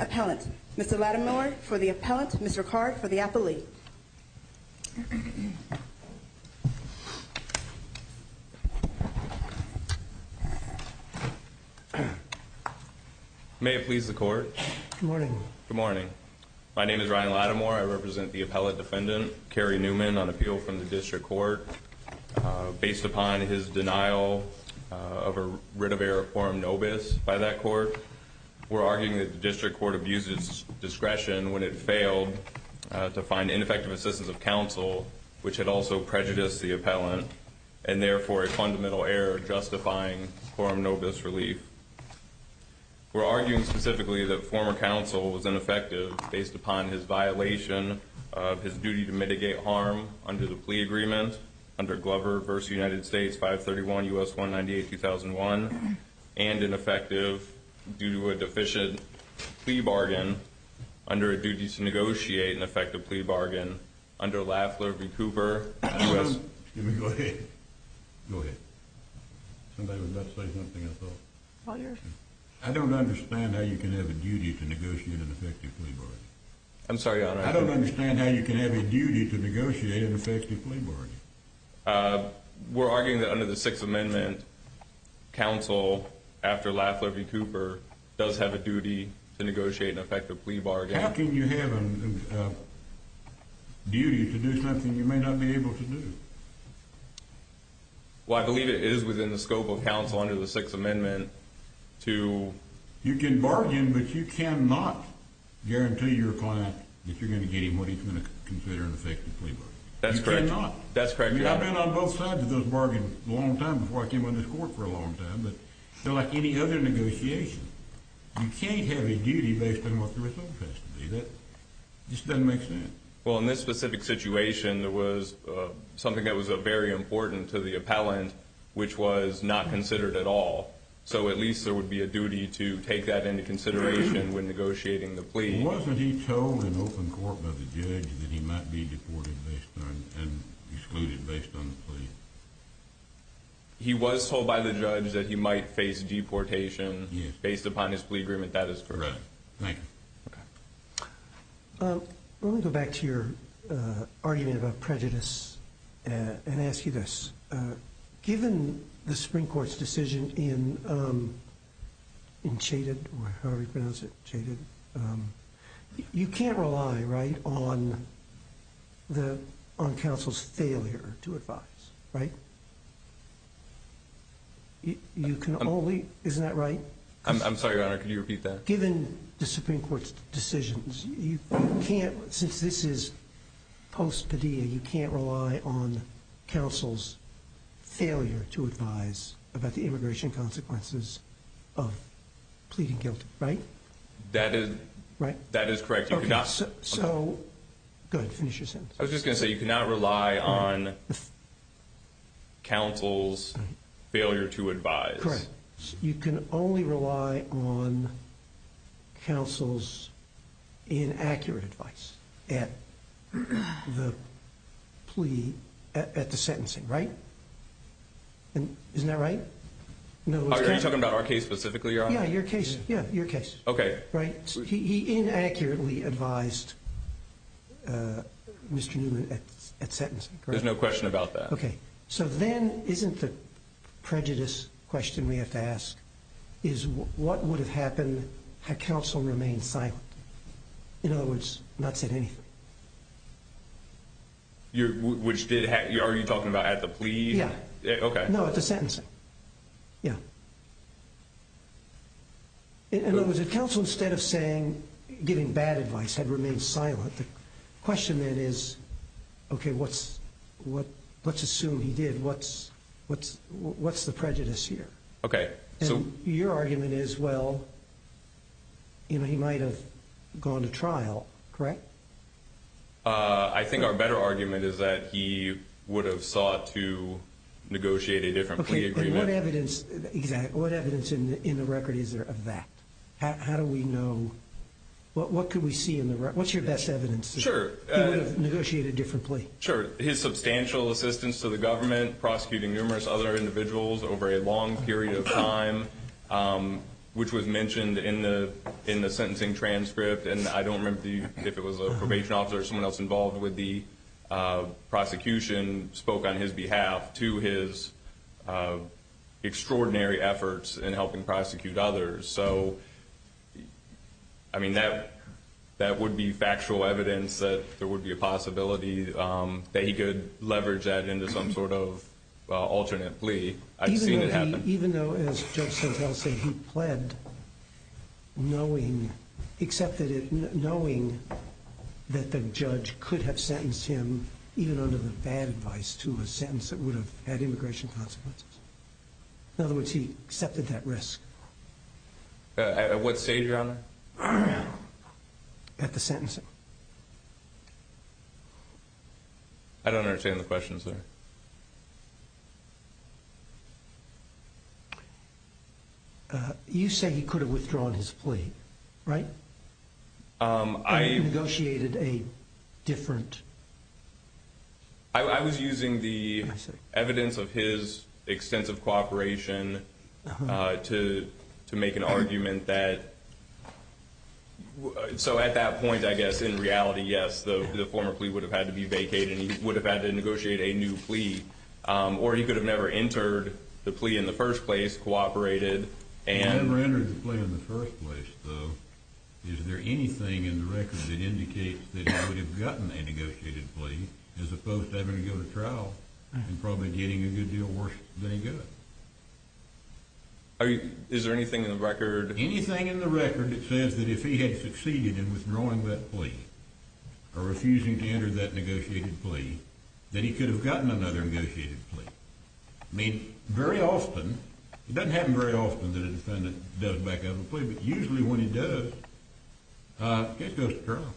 Appellant. Mr. Lattimore for the Appellant. Mr. Card for the Appellee. May it please the Court. Good morning. Good morning. My name is Ryan Lattimore. I represent the Appellate Defendant, Kerry Newman, on appeal from the District Court. Based upon his denial of a writ of error of quorum nobis by that court, we're arguing that the District Court abused its discretion when it failed to find ineffective assistance of counsel, which had also prejudiced the appellant, and therefore a fundamental error justifying quorum nobis relief. We're arguing specifically that former counsel was ineffective based upon his violation of his duty to mitigate harm under the plea agreement under Glover v. United States 531 U.S. 198-2001, and ineffective due to a deficient plea bargain under a duty to negotiate an effective plea bargain under Lafleur v. Cooper, U.S. Go ahead. Somebody was about to say something I thought. I don't understand how you can have a duty to negotiate an effective plea bargain. I'm sorry, Your Honor. I don't understand how you can have a duty to negotiate an effective plea bargain. We're arguing that under the Sixth Amendment, counsel after Lafleur v. Cooper does have a duty to negotiate an effective plea bargain. How can you have a duty to do something you may not be able to do? Well, I believe it is within the scope of counsel under the Sixth Amendment to... You can bargain, but you cannot guarantee your client that you're going to get him what he's going to consider an effective plea bargain. That's correct. That's correct, Your Honor. I've been on both sides of those bargains a long time, before I came on this court for a long time. But like any other negotiation, you can't have a duty based on what the result has to be. That just doesn't make sense. Well, in this specific situation, there was something that was very important to the appellant, which was not considered at all. So at least there would be a duty to take that into consideration when negotiating the plea. Wasn't he told in open court by the judge that he might be deported and excluded based on the plea? He was told by the judge that he might face deportation based upon his plea agreement. That is correct. Right. Thank you. Let me go back to your argument about prejudice and ask you this. Given the Supreme Court's decision in Chated, you can't rely on counsel's failure to advise, right? You can only... Isn't that right? I'm sorry, Your Honor. Can you repeat that? Given the Supreme Court's decisions, you can't, since this is post-pedia, you can't rely on counsel's failure to advise about the immigration consequences of pleading guilty, right? That is correct. So, go ahead, finish your sentence. I was just going to say you cannot rely on counsel's failure to advise. Correct. You can only rely on counsel's inaccurate advice at the plea, at the sentencing, right? Isn't that right? Are you talking about our case specifically, Your Honor? Yeah, your case. He inaccurately advised Mr. Newman at sentencing. There's no question about that. Okay. So then, isn't the prejudice question we have to ask is what would have happened had counsel remained silent? In other words, not said anything. Are you talking about at the plea? Yeah. No, at the sentencing. Yeah. In other words, if counsel, instead of saying, giving bad advice, had remained silent, the question then is, okay, let's assume he did. What's the prejudice here? Okay. Your argument is, well, he might have gone to trial, correct? I think our better argument is that he would have sought to negotiate a different plea agreement. What evidence in the record is there of that? How do we know? What could we see in the record? What's your best evidence that he would have negotiated a different plea? Sure. His substantial assistance to the government, prosecuting numerous other individuals over a long period of time, which was mentioned in the sentencing transcript, and I don't remember if it was a probation officer or someone else involved with the prosecution spoke on his behalf to his extraordinary efforts in helping prosecute others. So, I mean, that would be factual evidence that there would be a possibility that he could leverage that into some sort of alternate plea. I've seen it happen. Even though, as Judge Santel said, he pled knowing, accepted it knowing that the judge could have sentenced him, even under the bad advice, to a sentence that would have had immigration consequences. In other words, he accepted that risk. At what stage, Your Honor? At the sentencing. I don't understand the question, sir. You say he could have withdrawn his plea, right? Or he negotiated a different? I was using the evidence of his extensive cooperation to make an argument that, so at that point, I guess, in reality, yes, the former plea would have had to be vacated and he would have had to negotiate a new plea. Or he could have never entered the plea in the first place, cooperated, and He never entered the plea in the first place, though. Is there anything in the record that indicates that he would have gotten a negotiated plea as opposed to having to go to trial and probably getting a good deal worse than he got? Is there anything in the record? Anything in the record that says that if he had succeeded in withdrawing that plea or refusing to enter that negotiated plea, that he could have gotten another negotiated plea. I mean, very often, it doesn't happen very often that a defendant does back out of a plea, but usually when he does, it goes to trial.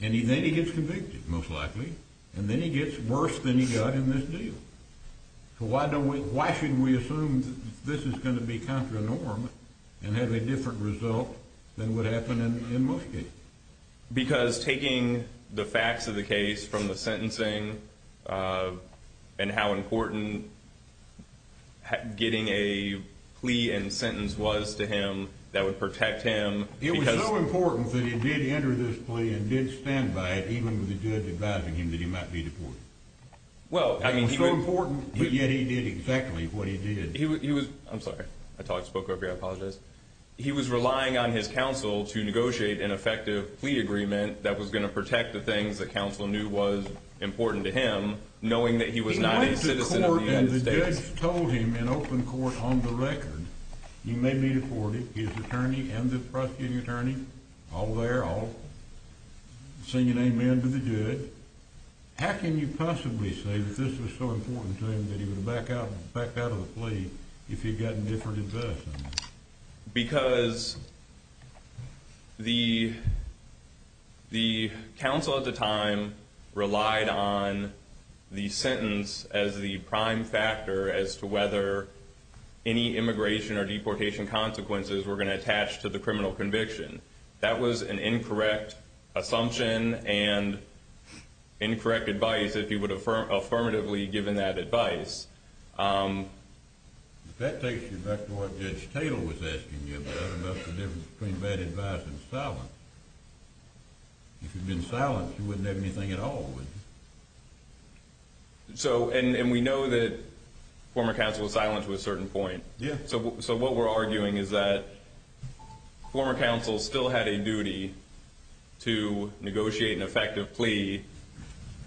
And then he gets convicted, most likely. And then he gets worse than he got in this deal. So why should we assume that this is going to be contra norm and have a different result than what happened in most cases? Because taking the facts of the case from the sentencing and how important getting a plea and sentence was to him that would protect him. It was so important that he did enter this plea and did stand by it, even with the judge advising him that he might be deported. It was so important, yet he did exactly what he did. He was relying on his counsel to negotiate an effective plea agreement that was going to protect the things that counsel knew was important to him, knowing that he was not a citizen of the United States. He went to court and the judge told him in open court on the record, you may be deported, his attorney and the prosecuting attorney all there, all singing amen to the good. How can you possibly say that this was so important to him that he would have backed out of the plea if he had gotten different advice? Because the counsel at the time relied on the sentence as the prime factor as to whether any immigration or deportation consequences were going to attach to the criminal conviction. That was an incorrect assumption and incorrect advice if he would have affirmatively given that advice. That takes you back to what Judge Tatel was asking you about, about the difference between bad advice and silence. If you'd been silent, you wouldn't have anything at all, would you? We know that former counsel was silent to a certain point. What we're arguing is that former counsel still had a duty to negotiate an effective plea,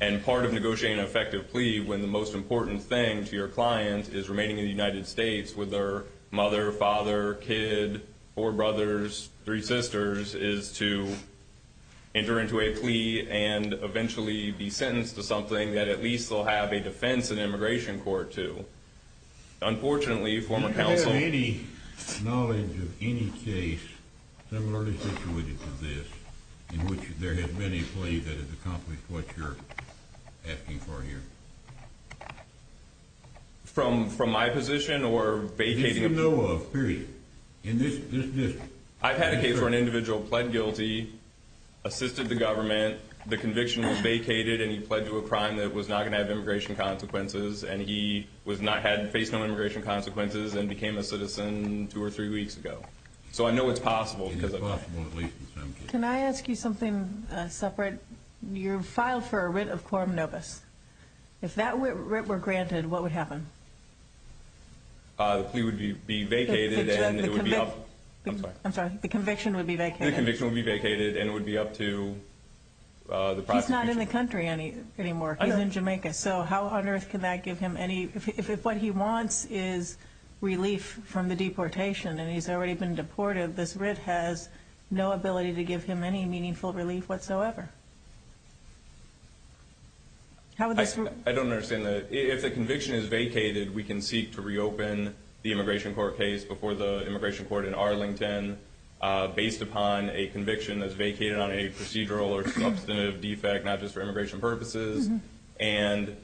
and part of negotiating an effective plea when the most important thing to your client is remaining in the United States with their mother, father, kid, four brothers, three sisters, is to enter into a plea and eventually be sentenced to something that at least they'll have a defense in immigration court to. Unfortunately, former counsel... ...in which there has been a plea that has accomplished what you're asking for here. From my position or vacating... If you know of, period. I've had a case where an individual pled guilty, assisted the government, the conviction was vacated, and he pled to a crime that was not going to have immigration consequences, and he had faced no immigration consequences and became a citizen two or three weeks ago. So I know it's possible. Can I ask you something separate? You filed for a writ of quorum nobis. If that writ were granted, what would happen? The plea would be vacated, and it would be up... I'm sorry, the conviction would be vacated. The conviction would be vacated, and it would be up to... He's not in the country anymore. He's in Jamaica. So how on earth can that give him any... If what he wants is relief from the deportation, and he's already been deported, this writ has no ability to give him any meaningful relief whatsoever. I don't understand that. If the conviction is vacated, we can seek to reopen the immigration court case before the immigration court in Arlington based upon a conviction that's vacated on a procedural or substantive defect, not just for immigration purposes, and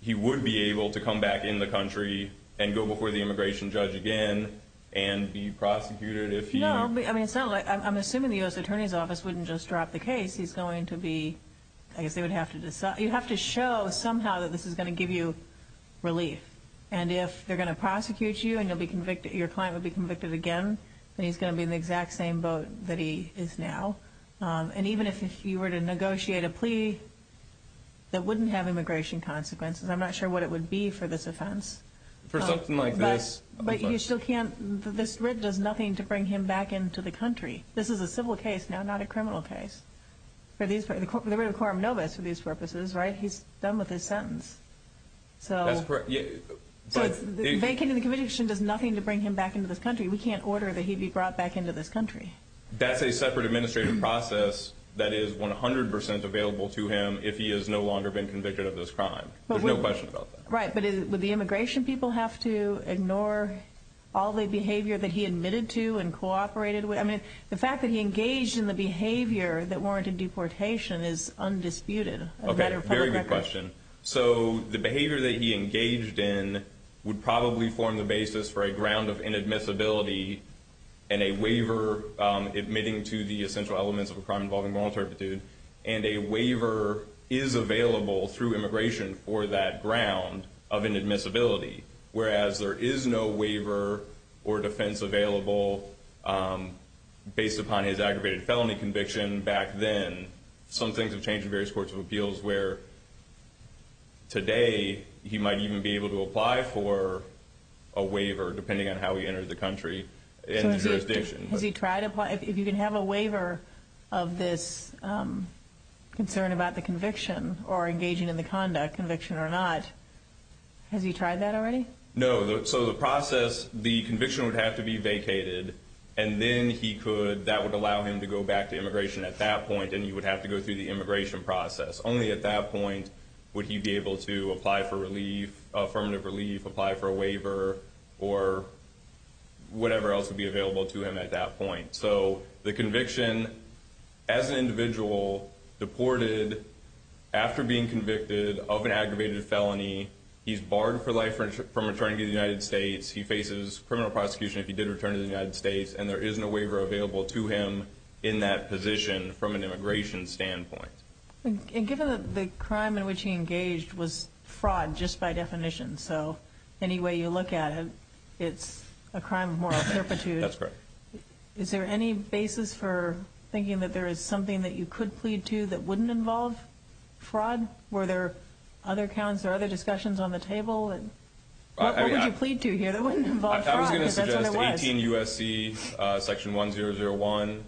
he would be able to come back in the country and go before the immigration judge again and be prosecuted if he... I'm assuming the U.S. Attorney's Office wouldn't just drop the case. He's going to be... You have to show somehow that this is going to give you relief. And if they're going to prosecute you and your client would be convicted again, then he's going to be in the exact same boat that he is now. And even if you were to negotiate a plea that wouldn't have immigration consequences, I'm not sure what it would be for this offense. For something like this? But you still can't... This writ does nothing to bring him back into the country. This is a civil case, not a criminal case. The writ of quorum noves for these purposes, right? He's done with his sentence. That's correct. Vacating the conviction does nothing to bring him back into this country. We can't order that he be brought back into this country. That's a separate administrative process that is 100% available to him if he has no longer been convicted of this crime. There's no question about that. Right, but would the immigration people have to ignore all the behavior that he admitted to and cooperated with? The fact that he engaged in the behavior that warranted deportation is undisputed. Okay, very good question. So the behavior that he engaged in would probably form the basis for a ground of inadmissibility and a waiver admitting to the essential elements of a crime involving voluntary gratitude, and a waiver is available through immigration for that ground of inadmissibility, whereas there is no waiver or defense available based upon his aggravated felony conviction back then. Some things have changed in various courts of appeals where today he might even be able to apply for a waiver depending on how he entered the country and the jurisdiction. Has he tried to apply? If you can have a waiver of this concern about the conviction or engaging in the conduct, conviction or not, has he tried that already? No. So the process, the conviction would have to be vacated, and then that would allow him to go back to immigration at that point, and he would have to go through the immigration process. Only at that point would he be able to apply for relief, affirmative relief, apply for a waiver, or whatever else would be available to him at that point. So the conviction as an individual deported after being convicted of an aggravated felony, he's barred for life from returning to the United States, he faces criminal prosecution if he did return to the United States, and there is no waiver available to him in that position from an immigration standpoint. And given that the crime in which he engaged was fraud just by definition, so any way you look at it, it's a crime of moral turpitude. That's correct. Is there any basis for thinking that there is something that you could plead to that wouldn't involve fraud? Were there other counts or other discussions on the table? I was going to suggest 18 U.S.C. section 1001,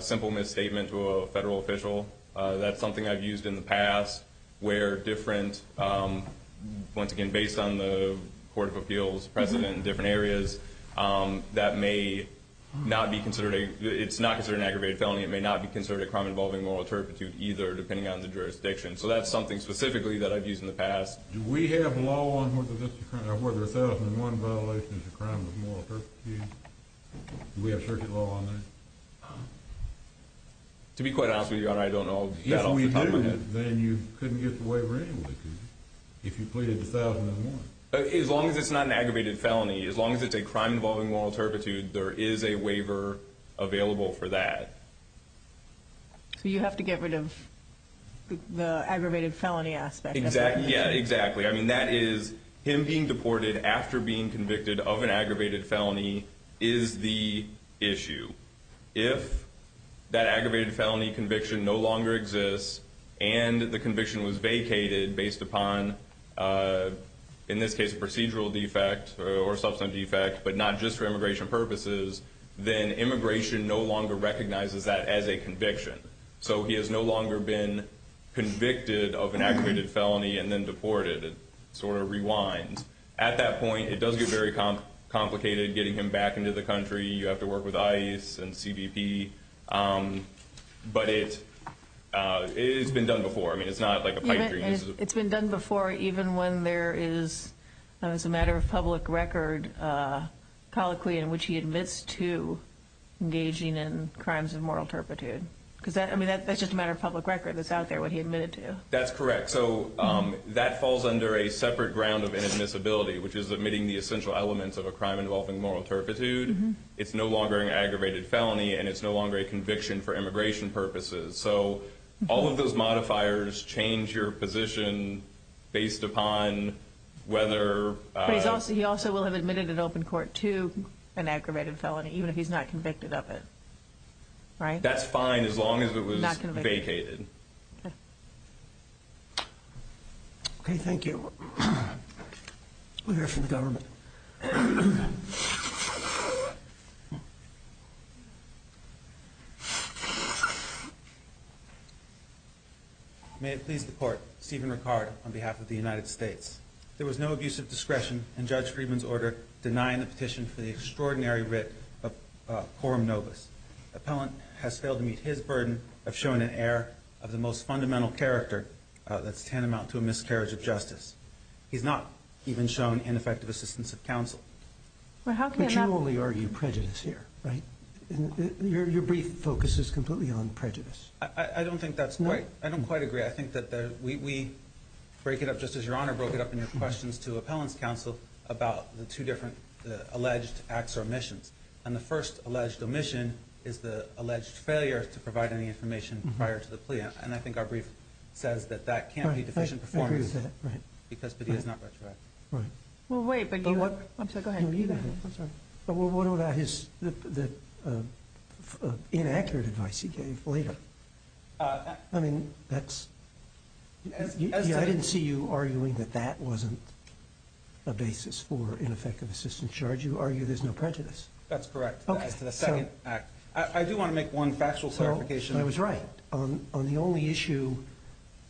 simple misstatement to a federal official. That's something I've used in the past where different, once again, based on the Court of Appeals precedent in different areas, that may not be considered an aggravated felony. It may not be considered a crime involving moral turpitude either, depending on the jurisdiction. So that's something specifically that I've used in the past. Do we have law on whether 1001 violation is a crime of moral turpitude? Do we have circuit law on that? To be quite honest with you, Your Honor, I don't know that off the top of my head. If we do, then you couldn't get the waiver anyway if you pleaded 1001. As long as it's not an aggravated felony, as long as it's a crime involving moral turpitude, there is a waiver available for that. So you have to get rid of the aggravated felony aspect. Exactly. Yeah, exactly. I mean, that is him being deported after being convicted of an aggravated felony is the issue. If that aggravated felony conviction no longer exists and the conviction was vacated based upon, in this case, a procedural defect or substance defect, but not just for immigration purposes, then immigration no longer recognizes that as a conviction. So he has no longer been convicted of an aggravated felony and then deported. It sort of rewinds. At that point, it does get very complicated getting him back into the country. You have to work with ICE and CBP, but it's been done before. I mean, it's not like a pipe dream. It's been done before even when there is, as a matter of public record, a colloquy in which he admits to engaging in crimes of moral turpitude. I mean, that's just a matter of public record that's out there what he admitted to. That's correct. So that falls under a separate ground of inadmissibility, which is admitting the essential elements of a crime involving moral turpitude. It's no longer an aggravated felony, and it's no longer a conviction for immigration purposes. So all of those modifiers change your position based upon whether— He also will have admitted in open court to an aggravated felony, even if he's not convicted of it, right? That's fine as long as it was vacated. Okay, thank you. We'll hear from the government. May it please the Court, Stephen Ricard on behalf of the United States. There was no abusive discretion in Judge Friedman's order denying the petition for the extraordinary writ of quorum nobis. Appellant has failed to meet his burden of showing an air of the most fundamental character that's tantamount to a miscarriage of justice. He's not even shown ineffective assistance of counsel. But you only argue prejudice here, right? Your brief focus is completely on prejudice. I don't think that's quite—I don't quite agree. I think that we break it up, just as Your Honor broke it up in your questions to Appellant's counsel, about the two different alleged acts or omissions. And the first alleged omission is the alleged failure to provide any information prior to the plea. And I think our brief says that that can't be deficient performance because Padilla's not retroactive. Well, wait, but you—I'm sorry, go ahead. What about his—the inaccurate advice he gave later? I mean, that's—I didn't see you arguing that that wasn't a basis for ineffective assistance charge. You argue there's no prejudice. That's correct as to the second act. I do want to make one factual clarification. I was right. On the only issue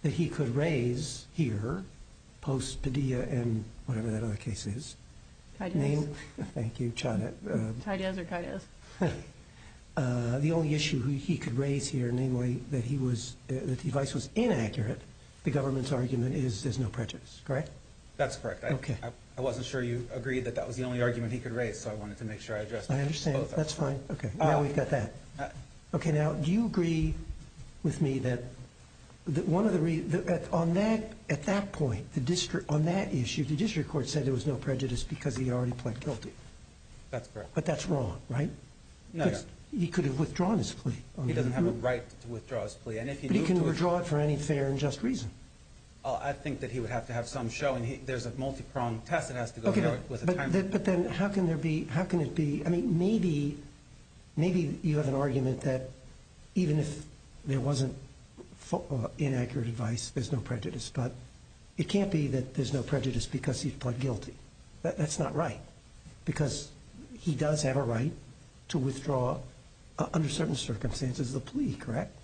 that he could raise here, post-Padilla and whatever that other case is— Kaidez. Thank you. Kaidez or Kaidez. The only issue he could raise here, namely, that he was—that the advice was inaccurate, the government's argument is there's no prejudice, correct? That's correct. I wasn't sure you agreed that that was the only argument he could raise, so I wanted to make sure I addressed both of them. I understand. That's fine. Okay. Now we've got that. Okay. Now, do you agree with me that one of the—on that—at that point, the district—on that issue, the district court said there was no prejudice because he had already pled guilty? That's correct. But that's wrong, right? No, Your Honor. Because he could have withdrawn his plea. He doesn't have a right to withdraw his plea. But he can withdraw it for any fair and just reason. I think that he would have to have some showing. There's a multi-pronged test that has to go with it. But then how can there be—how can it be—I mean, maybe—maybe you have an argument that even if there wasn't inaccurate advice, there's no prejudice, but it can't be that there's no prejudice because he pled guilty. That's not right. Because he does have a right to withdraw, under certain circumstances, the plea, correct?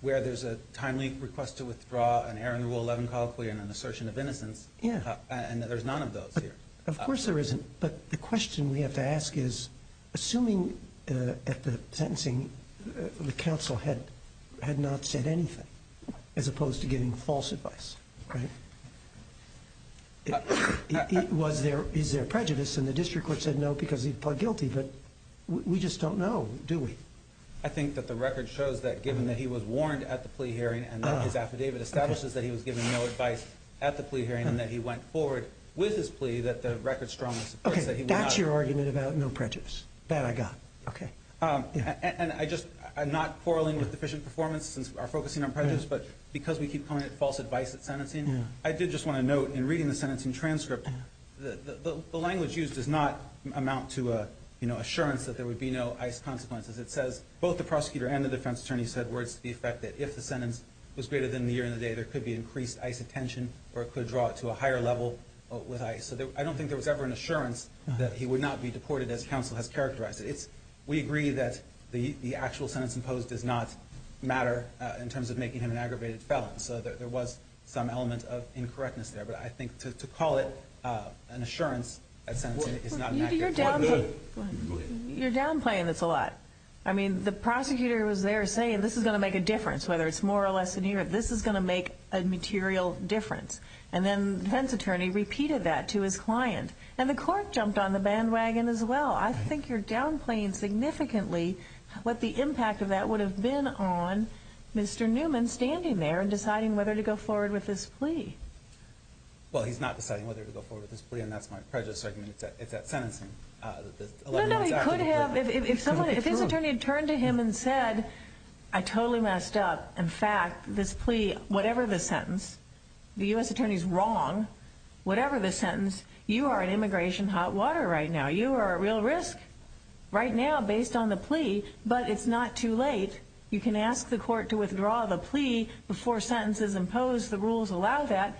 Where there's a timely request to withdraw an error in Rule 11 colloquially and an assertion of innocence. Yeah. And there's none of those here. Of course there isn't. But the question we have to ask is, assuming at the sentencing the counsel had not said anything, as opposed to giving false advice, right? Was there—is there prejudice? And the district court said no because he pled guilty. But we just don't know, do we? I think that the record shows that given that he was warned at the plea hearing and that his affidavit establishes that he was given no advice at the plea hearing and that he went forward with his plea, that the record strongly supports that he would not— Okay, that's your argument about no prejudice. That I got. Okay. And I just—I'm not quarreling with deficient performance since we are focusing on prejudice, but because we keep calling it false advice at sentencing, I did just want to note in reading the sentencing transcript, the language used does not amount to assurance that there would be no ICE consequences. It says both the prosecutor and the defense attorney said words to the effect that if the sentence was greater than the year and the day, there could be increased ICE attention or it could draw it to a higher level with ICE. So I don't think there was ever an assurance that he would not be deported as counsel has characterized it. We agree that the actual sentence imposed does not matter in terms of making him an aggravated felon. So there was some element of incorrectness there. But I think to call it an assurance at sentencing is not an accurate— You're downplaying this a lot. I mean, the prosecutor was there saying this is going to make a difference, whether it's more or less than a year. This is going to make a material difference. And then the defense attorney repeated that to his client. And the court jumped on the bandwagon as well. I think you're downplaying significantly what the impact of that would have been on Mr. Newman standing there and deciding whether to go forward with this plea. Well, he's not deciding whether to go forward with this plea, and that's my prejudice. It's at sentencing. No, no, he could have. If his attorney had turned to him and said, I totally messed up. In fact, this plea, whatever the sentence, the U.S. attorney's wrong, whatever the sentence, you are in immigration hot water right now. You are at real risk right now based on the plea, but it's not too late. You can ask the court to withdraw the plea before sentence is imposed. The rules allow that.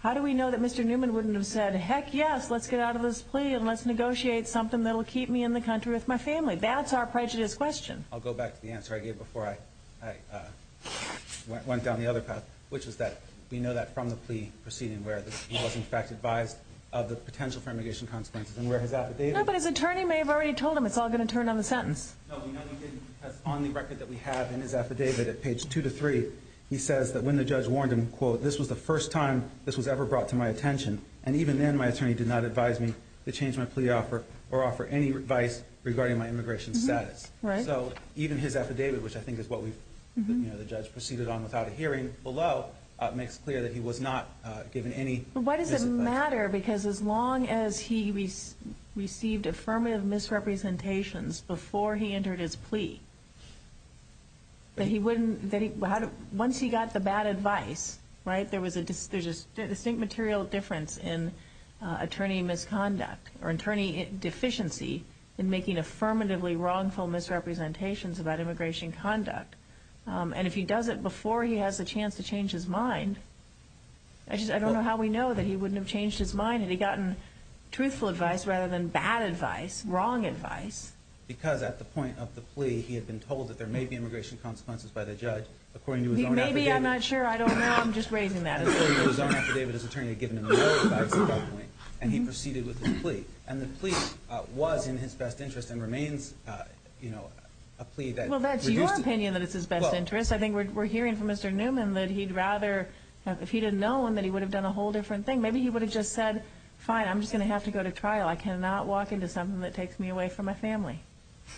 How do we know that Mr. Newman wouldn't have said, heck, yes, let's get out of this plea and let's negotiate something that will keep me in the country with my family? That's our prejudice question. I'll go back to the answer I gave before I went down the other path, which is that we know that from the plea proceeding, where he was, in fact, advised of the potential for immigration consequences and where his affidavit. No, but his attorney may have already told him it's all going to turn on the sentence. No, on the record that we have in his affidavit at page two to three, he says that when the judge warned him, quote, this was the first time this was ever brought to my attention, and even then my attorney did not advise me to change my plea offer or offer any advice regarding my immigration status. So even his affidavit, which I think is what the judge proceeded on without a hearing below, makes clear that he was not given any advice. But why does it matter? Because as long as he received affirmative misrepresentations before he entered his plea, once he got the bad advice, right, there's a distinct material difference in attorney misconduct or attorney deficiency in making affirmatively wrongful misrepresentations about immigration conduct. And if he does it before he has a chance to change his mind, I just don't know how we know that he wouldn't have changed his mind had he gotten truthful advice rather than bad advice, wrong advice. Because at the point of the plea, he had been told that there may be immigration consequences by the judge, according to his own affidavit. Maybe, I'm not sure, I don't know, I'm just raising that as a question. According to his own affidavit, his attorney had given him more advice at that point, and he proceeded with his plea. And the plea was in his best interest and remains, you know, a plea that reduced it. Well, that's your opinion that it's his best interest. I think we're hearing from Mr. Newman that he'd rather, if he'd have known, that he would have done a whole different thing. Maybe he would have just said, fine, I'm just going to have to go to trial. I cannot walk into something that takes me away from my family.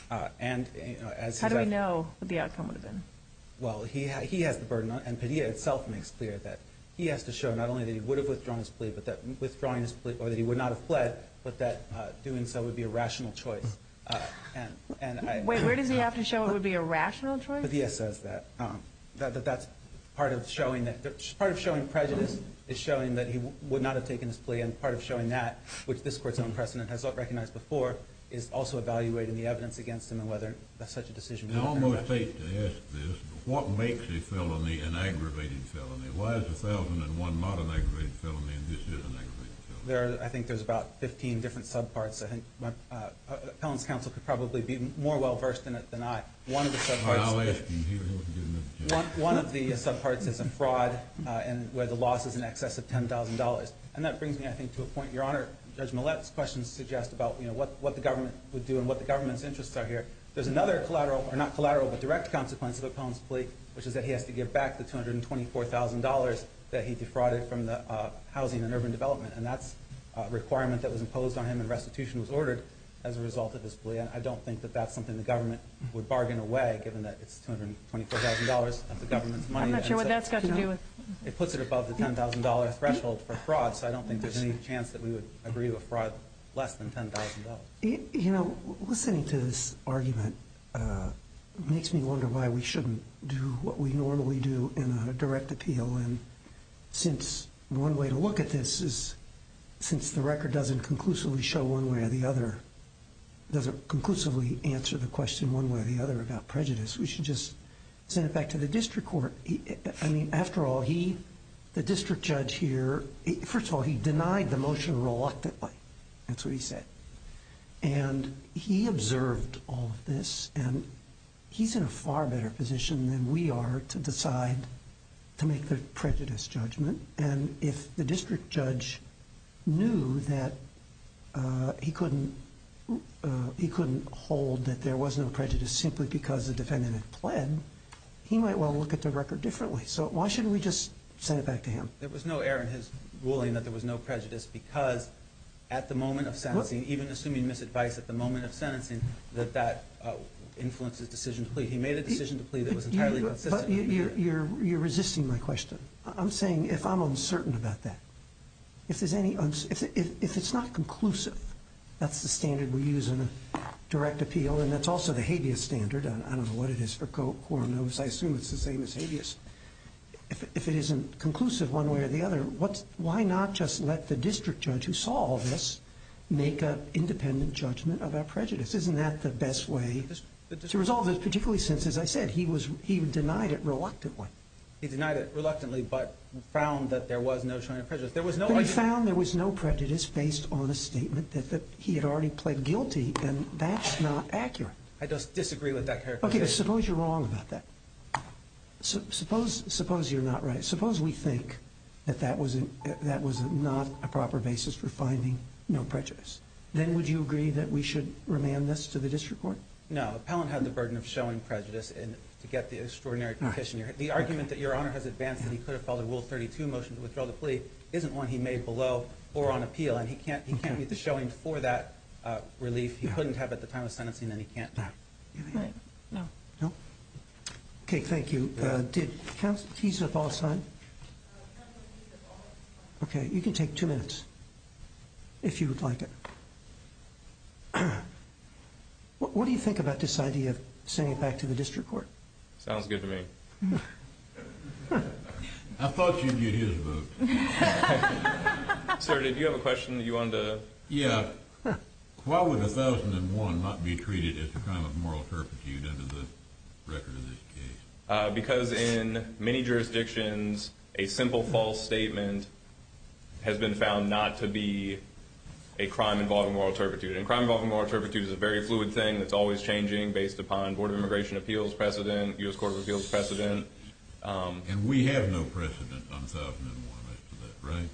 How do we know what the outcome would have been? Well, he has the burden, and Padilla itself makes clear that he has to show not only that he would have withdrawn his plea, but that withdrawing his plea, or that he would not have fled, but that doing so would be a rational choice. Wait, where does he have to show it would be a rational choice? Padilla says that. That's part of showing prejudice, is showing that he would not have taken his plea, and part of showing that, which this Court's own precedent has not recognized before, is also evaluating the evidence against him and whether such a decision would have been rational. I almost hate to ask this, but what makes a felony an aggravated felony? Why is 1001 not an aggravated felony and this is an aggravated felony? I think there's about 15 different subparts. Appellant's counsel could probably be more well-versed in it than I. One of the subparts is a fraud where the loss is in excess of $10,000, and that brings me, I think, to a point Your Honor, Judge Millett's questions suggest about what the government would do and what the government's interests are here. There's another collateral, or not collateral, but direct consequence of Appellant's plea, which is that he has to give back the $224,000 that he defrauded from the housing and urban development, and that's a requirement that was imposed on him and restitution was ordered as a result of his plea. I don't think that that's something the government would bargain away, given that it's $224,000 of the government's money. I'm not sure what that's got to do with... It puts it above the $10,000 threshold for fraud, so I don't think there's any chance that we would agree to a fraud less than $10,000. You know, listening to this argument makes me wonder why we shouldn't do what we normally do in a direct appeal, and since one way to look at this is, since the record doesn't conclusively show one way or the other, doesn't conclusively answer the question one way or the other about prejudice, we should just send it back to the district court. I mean, after all, he, the district judge here, first of all, he denied the motion reluctantly. That's what he said. And he observed all of this, and he's in a far better position than we are to decide to make the prejudice judgment, and if the district judge knew that he couldn't hold that there was no prejudice simply because the defendant had pled, he might well look at the record differently. So why shouldn't we just send it back to him? There was no error in his ruling that there was no prejudice because at the moment of sentencing, even assuming misadvice at the moment of sentencing, that that influences decision to plea. He made a decision to plea that was entirely consistent. But you're resisting my question. I'm saying if I'm uncertain about that, if there's any, if it's not conclusive, that's the standard we use in a direct appeal, and that's also the habeas standard. I don't know what it is for Quorum notice. I assume it's the same as habeas. If it isn't conclusive one way or the other, why not just let the district judge who saw all this make an independent judgment of our prejudice? Isn't that the best way to resolve this, particularly since, as I said, he denied it reluctantly? He denied it reluctantly but found that there was no charge of prejudice. But he found there was no prejudice based on a statement that he had already pled guilty, and that's not accurate. I disagree with that characterization. Okay, suppose you're wrong about that. Suppose you're not right. Suppose we think that that was not a proper basis for finding no prejudice. Then would you agree that we should remand this to the district court? No. Appellant had the burden of showing prejudice to get the extraordinary petition. The argument that Your Honor has advanced that he could have filed a Rule 32 motion to withdraw the plea isn't one he made below or on appeal, and he can't get the showing for that relief. He couldn't have at the time of sentencing, and he can't now. Do you have a hand? No. No? Okay, thank you. Did counsel tease up all the time? Okay, you can take two minutes if you would like it. What do you think about this idea of sending it back to the district court? Sounds good to me. I thought you'd get his vote. Sir, did you have a question that you wanted to? Yeah. Why would 1001 not be treated as a crime of moral turpitude under the record of this case? Because in many jurisdictions, a simple false statement has been found not to be a crime involving moral turpitude. And a crime involving moral turpitude is a very fluid thing that's always changing based upon Board of Immigration Appeals precedent, U.S. Court of Appeals precedent. And we have no precedent on 1001 as to that, right?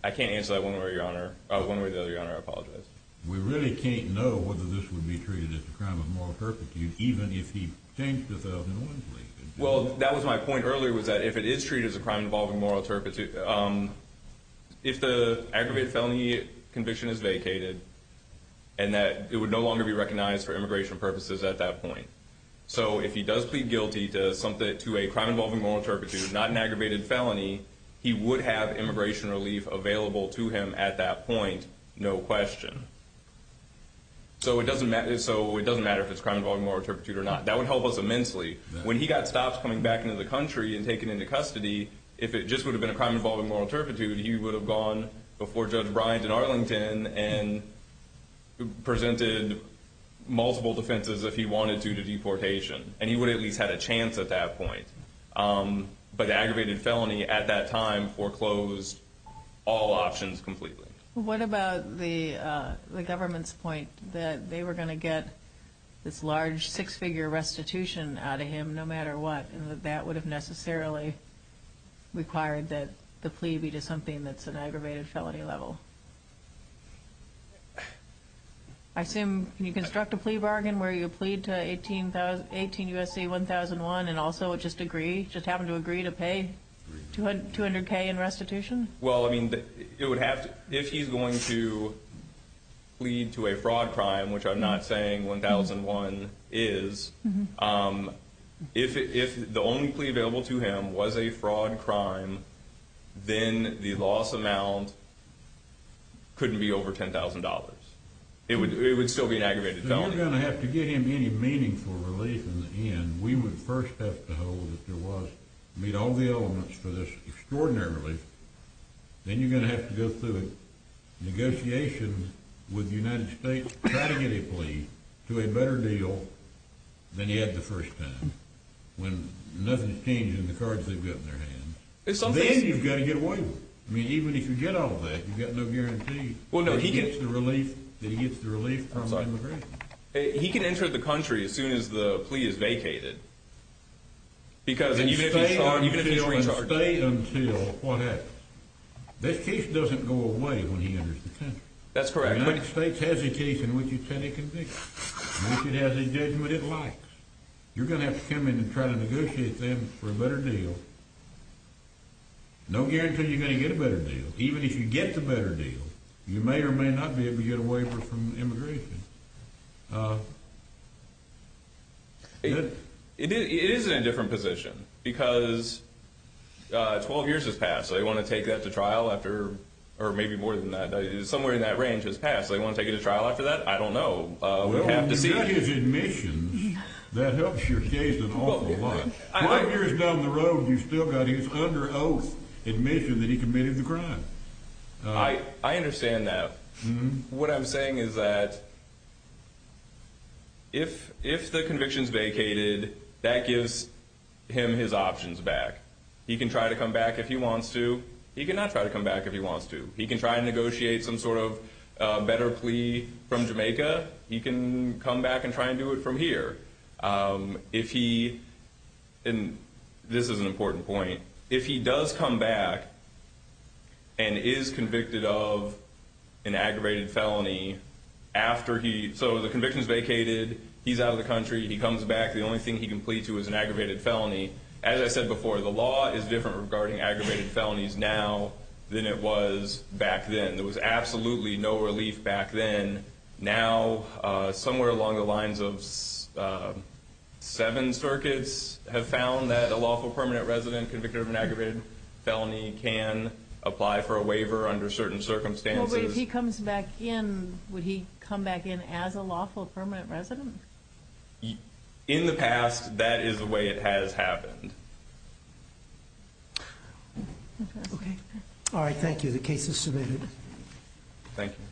I can't answer that one way, Your Honor. One way or the other, Your Honor, I apologize. We really can't know whether this would be treated as a crime of moral turpitude even if he changed the 1001 plea. Well, that was my point earlier was that if it is treated as a crime involving moral turpitude, if the aggravated felony conviction is vacated and that it would no longer be recognized for immigration purposes at that point. So if he does plead guilty to a crime involving moral turpitude, not an aggravated felony, he would have immigration relief available to him at that point, no question. So it doesn't matter if it's a crime involving moral turpitude or not. That would help us immensely. When he got stopped coming back into the country and taken into custody, if it just would have been a crime involving moral turpitude, he would have gone before Judge Bryant in Arlington and presented multiple defenses if he wanted to to deportation. And he would have at least had a chance at that point. But the aggravated felony at that time foreclosed all options completely. What about the government's point that they were going to get this large six-figure restitution out of him no matter what, and that that would have necessarily required that the plea be to something that's an aggravated felony level? I assume, can you construct a plea bargain where you plead to 18 U.S.C. 1001 and also just agree, just happen to agree to pay 200K in restitution? Well, I mean, it would have to, if he's going to plead to a fraud crime, which I'm not saying 1001 is, if the only plea available to him was a fraud crime, then the loss amount couldn't be over $10,000. It would still be an aggravated felony. So you're going to have to get him any meaningful relief in the end. We would first have to hold that there was, meet all the elements for this extraordinary relief. Then you're going to have to go through a negotiation with the United States, try to get a plea to a better deal than you had the first time, when nothing's changed in the cards they've got in their hands. Then you've got to get away with it. I mean, even if you get all that, you've got no guarantee that he gets the relief from immigration. He can enter the country as soon as the plea is vacated. You're going to have to stay until what happens. This case doesn't go away when he enters the country. That's correct. The United States has a case in which it's had a conviction. It has a judgment it likes. You're going to have to come in and try to negotiate them for a better deal. No guarantee you're going to get a better deal. Even if you get the better deal, you may or may not be able to get a waiver from immigration. It is in a different position because 12 years has passed. They want to take that to trial after, or maybe more than that. Somewhere in that range has passed. They want to take it to trial after that? I don't know. Well, you've got his admissions. That helps your case an awful lot. Five years down the road, you've still got his under oath admission that he committed the crime. I understand that. What I'm saying is that if the conviction is vacated, that gives him his options back. He can try to come back if he wants to. He can not try to come back if he wants to. He can try and negotiate some sort of better plea from Jamaica. He can come back and try and do it from here. This is an important point. If he does come back and is convicted of an aggravated felony, so the conviction is vacated. He's out of the country. He comes back. The only thing he can plead to is an aggravated felony. As I said before, the law is different regarding aggravated felonies now than it was back then. There was absolutely no relief back then. Now, somewhere along the lines of seven circuits have found that a lawful permanent resident convicted of an aggravated felony can apply for a waiver under certain circumstances. But if he comes back in, would he come back in as a lawful permanent resident? In the past, that is the way it has happened. All right. Thank you. The case is submitted. Thank you.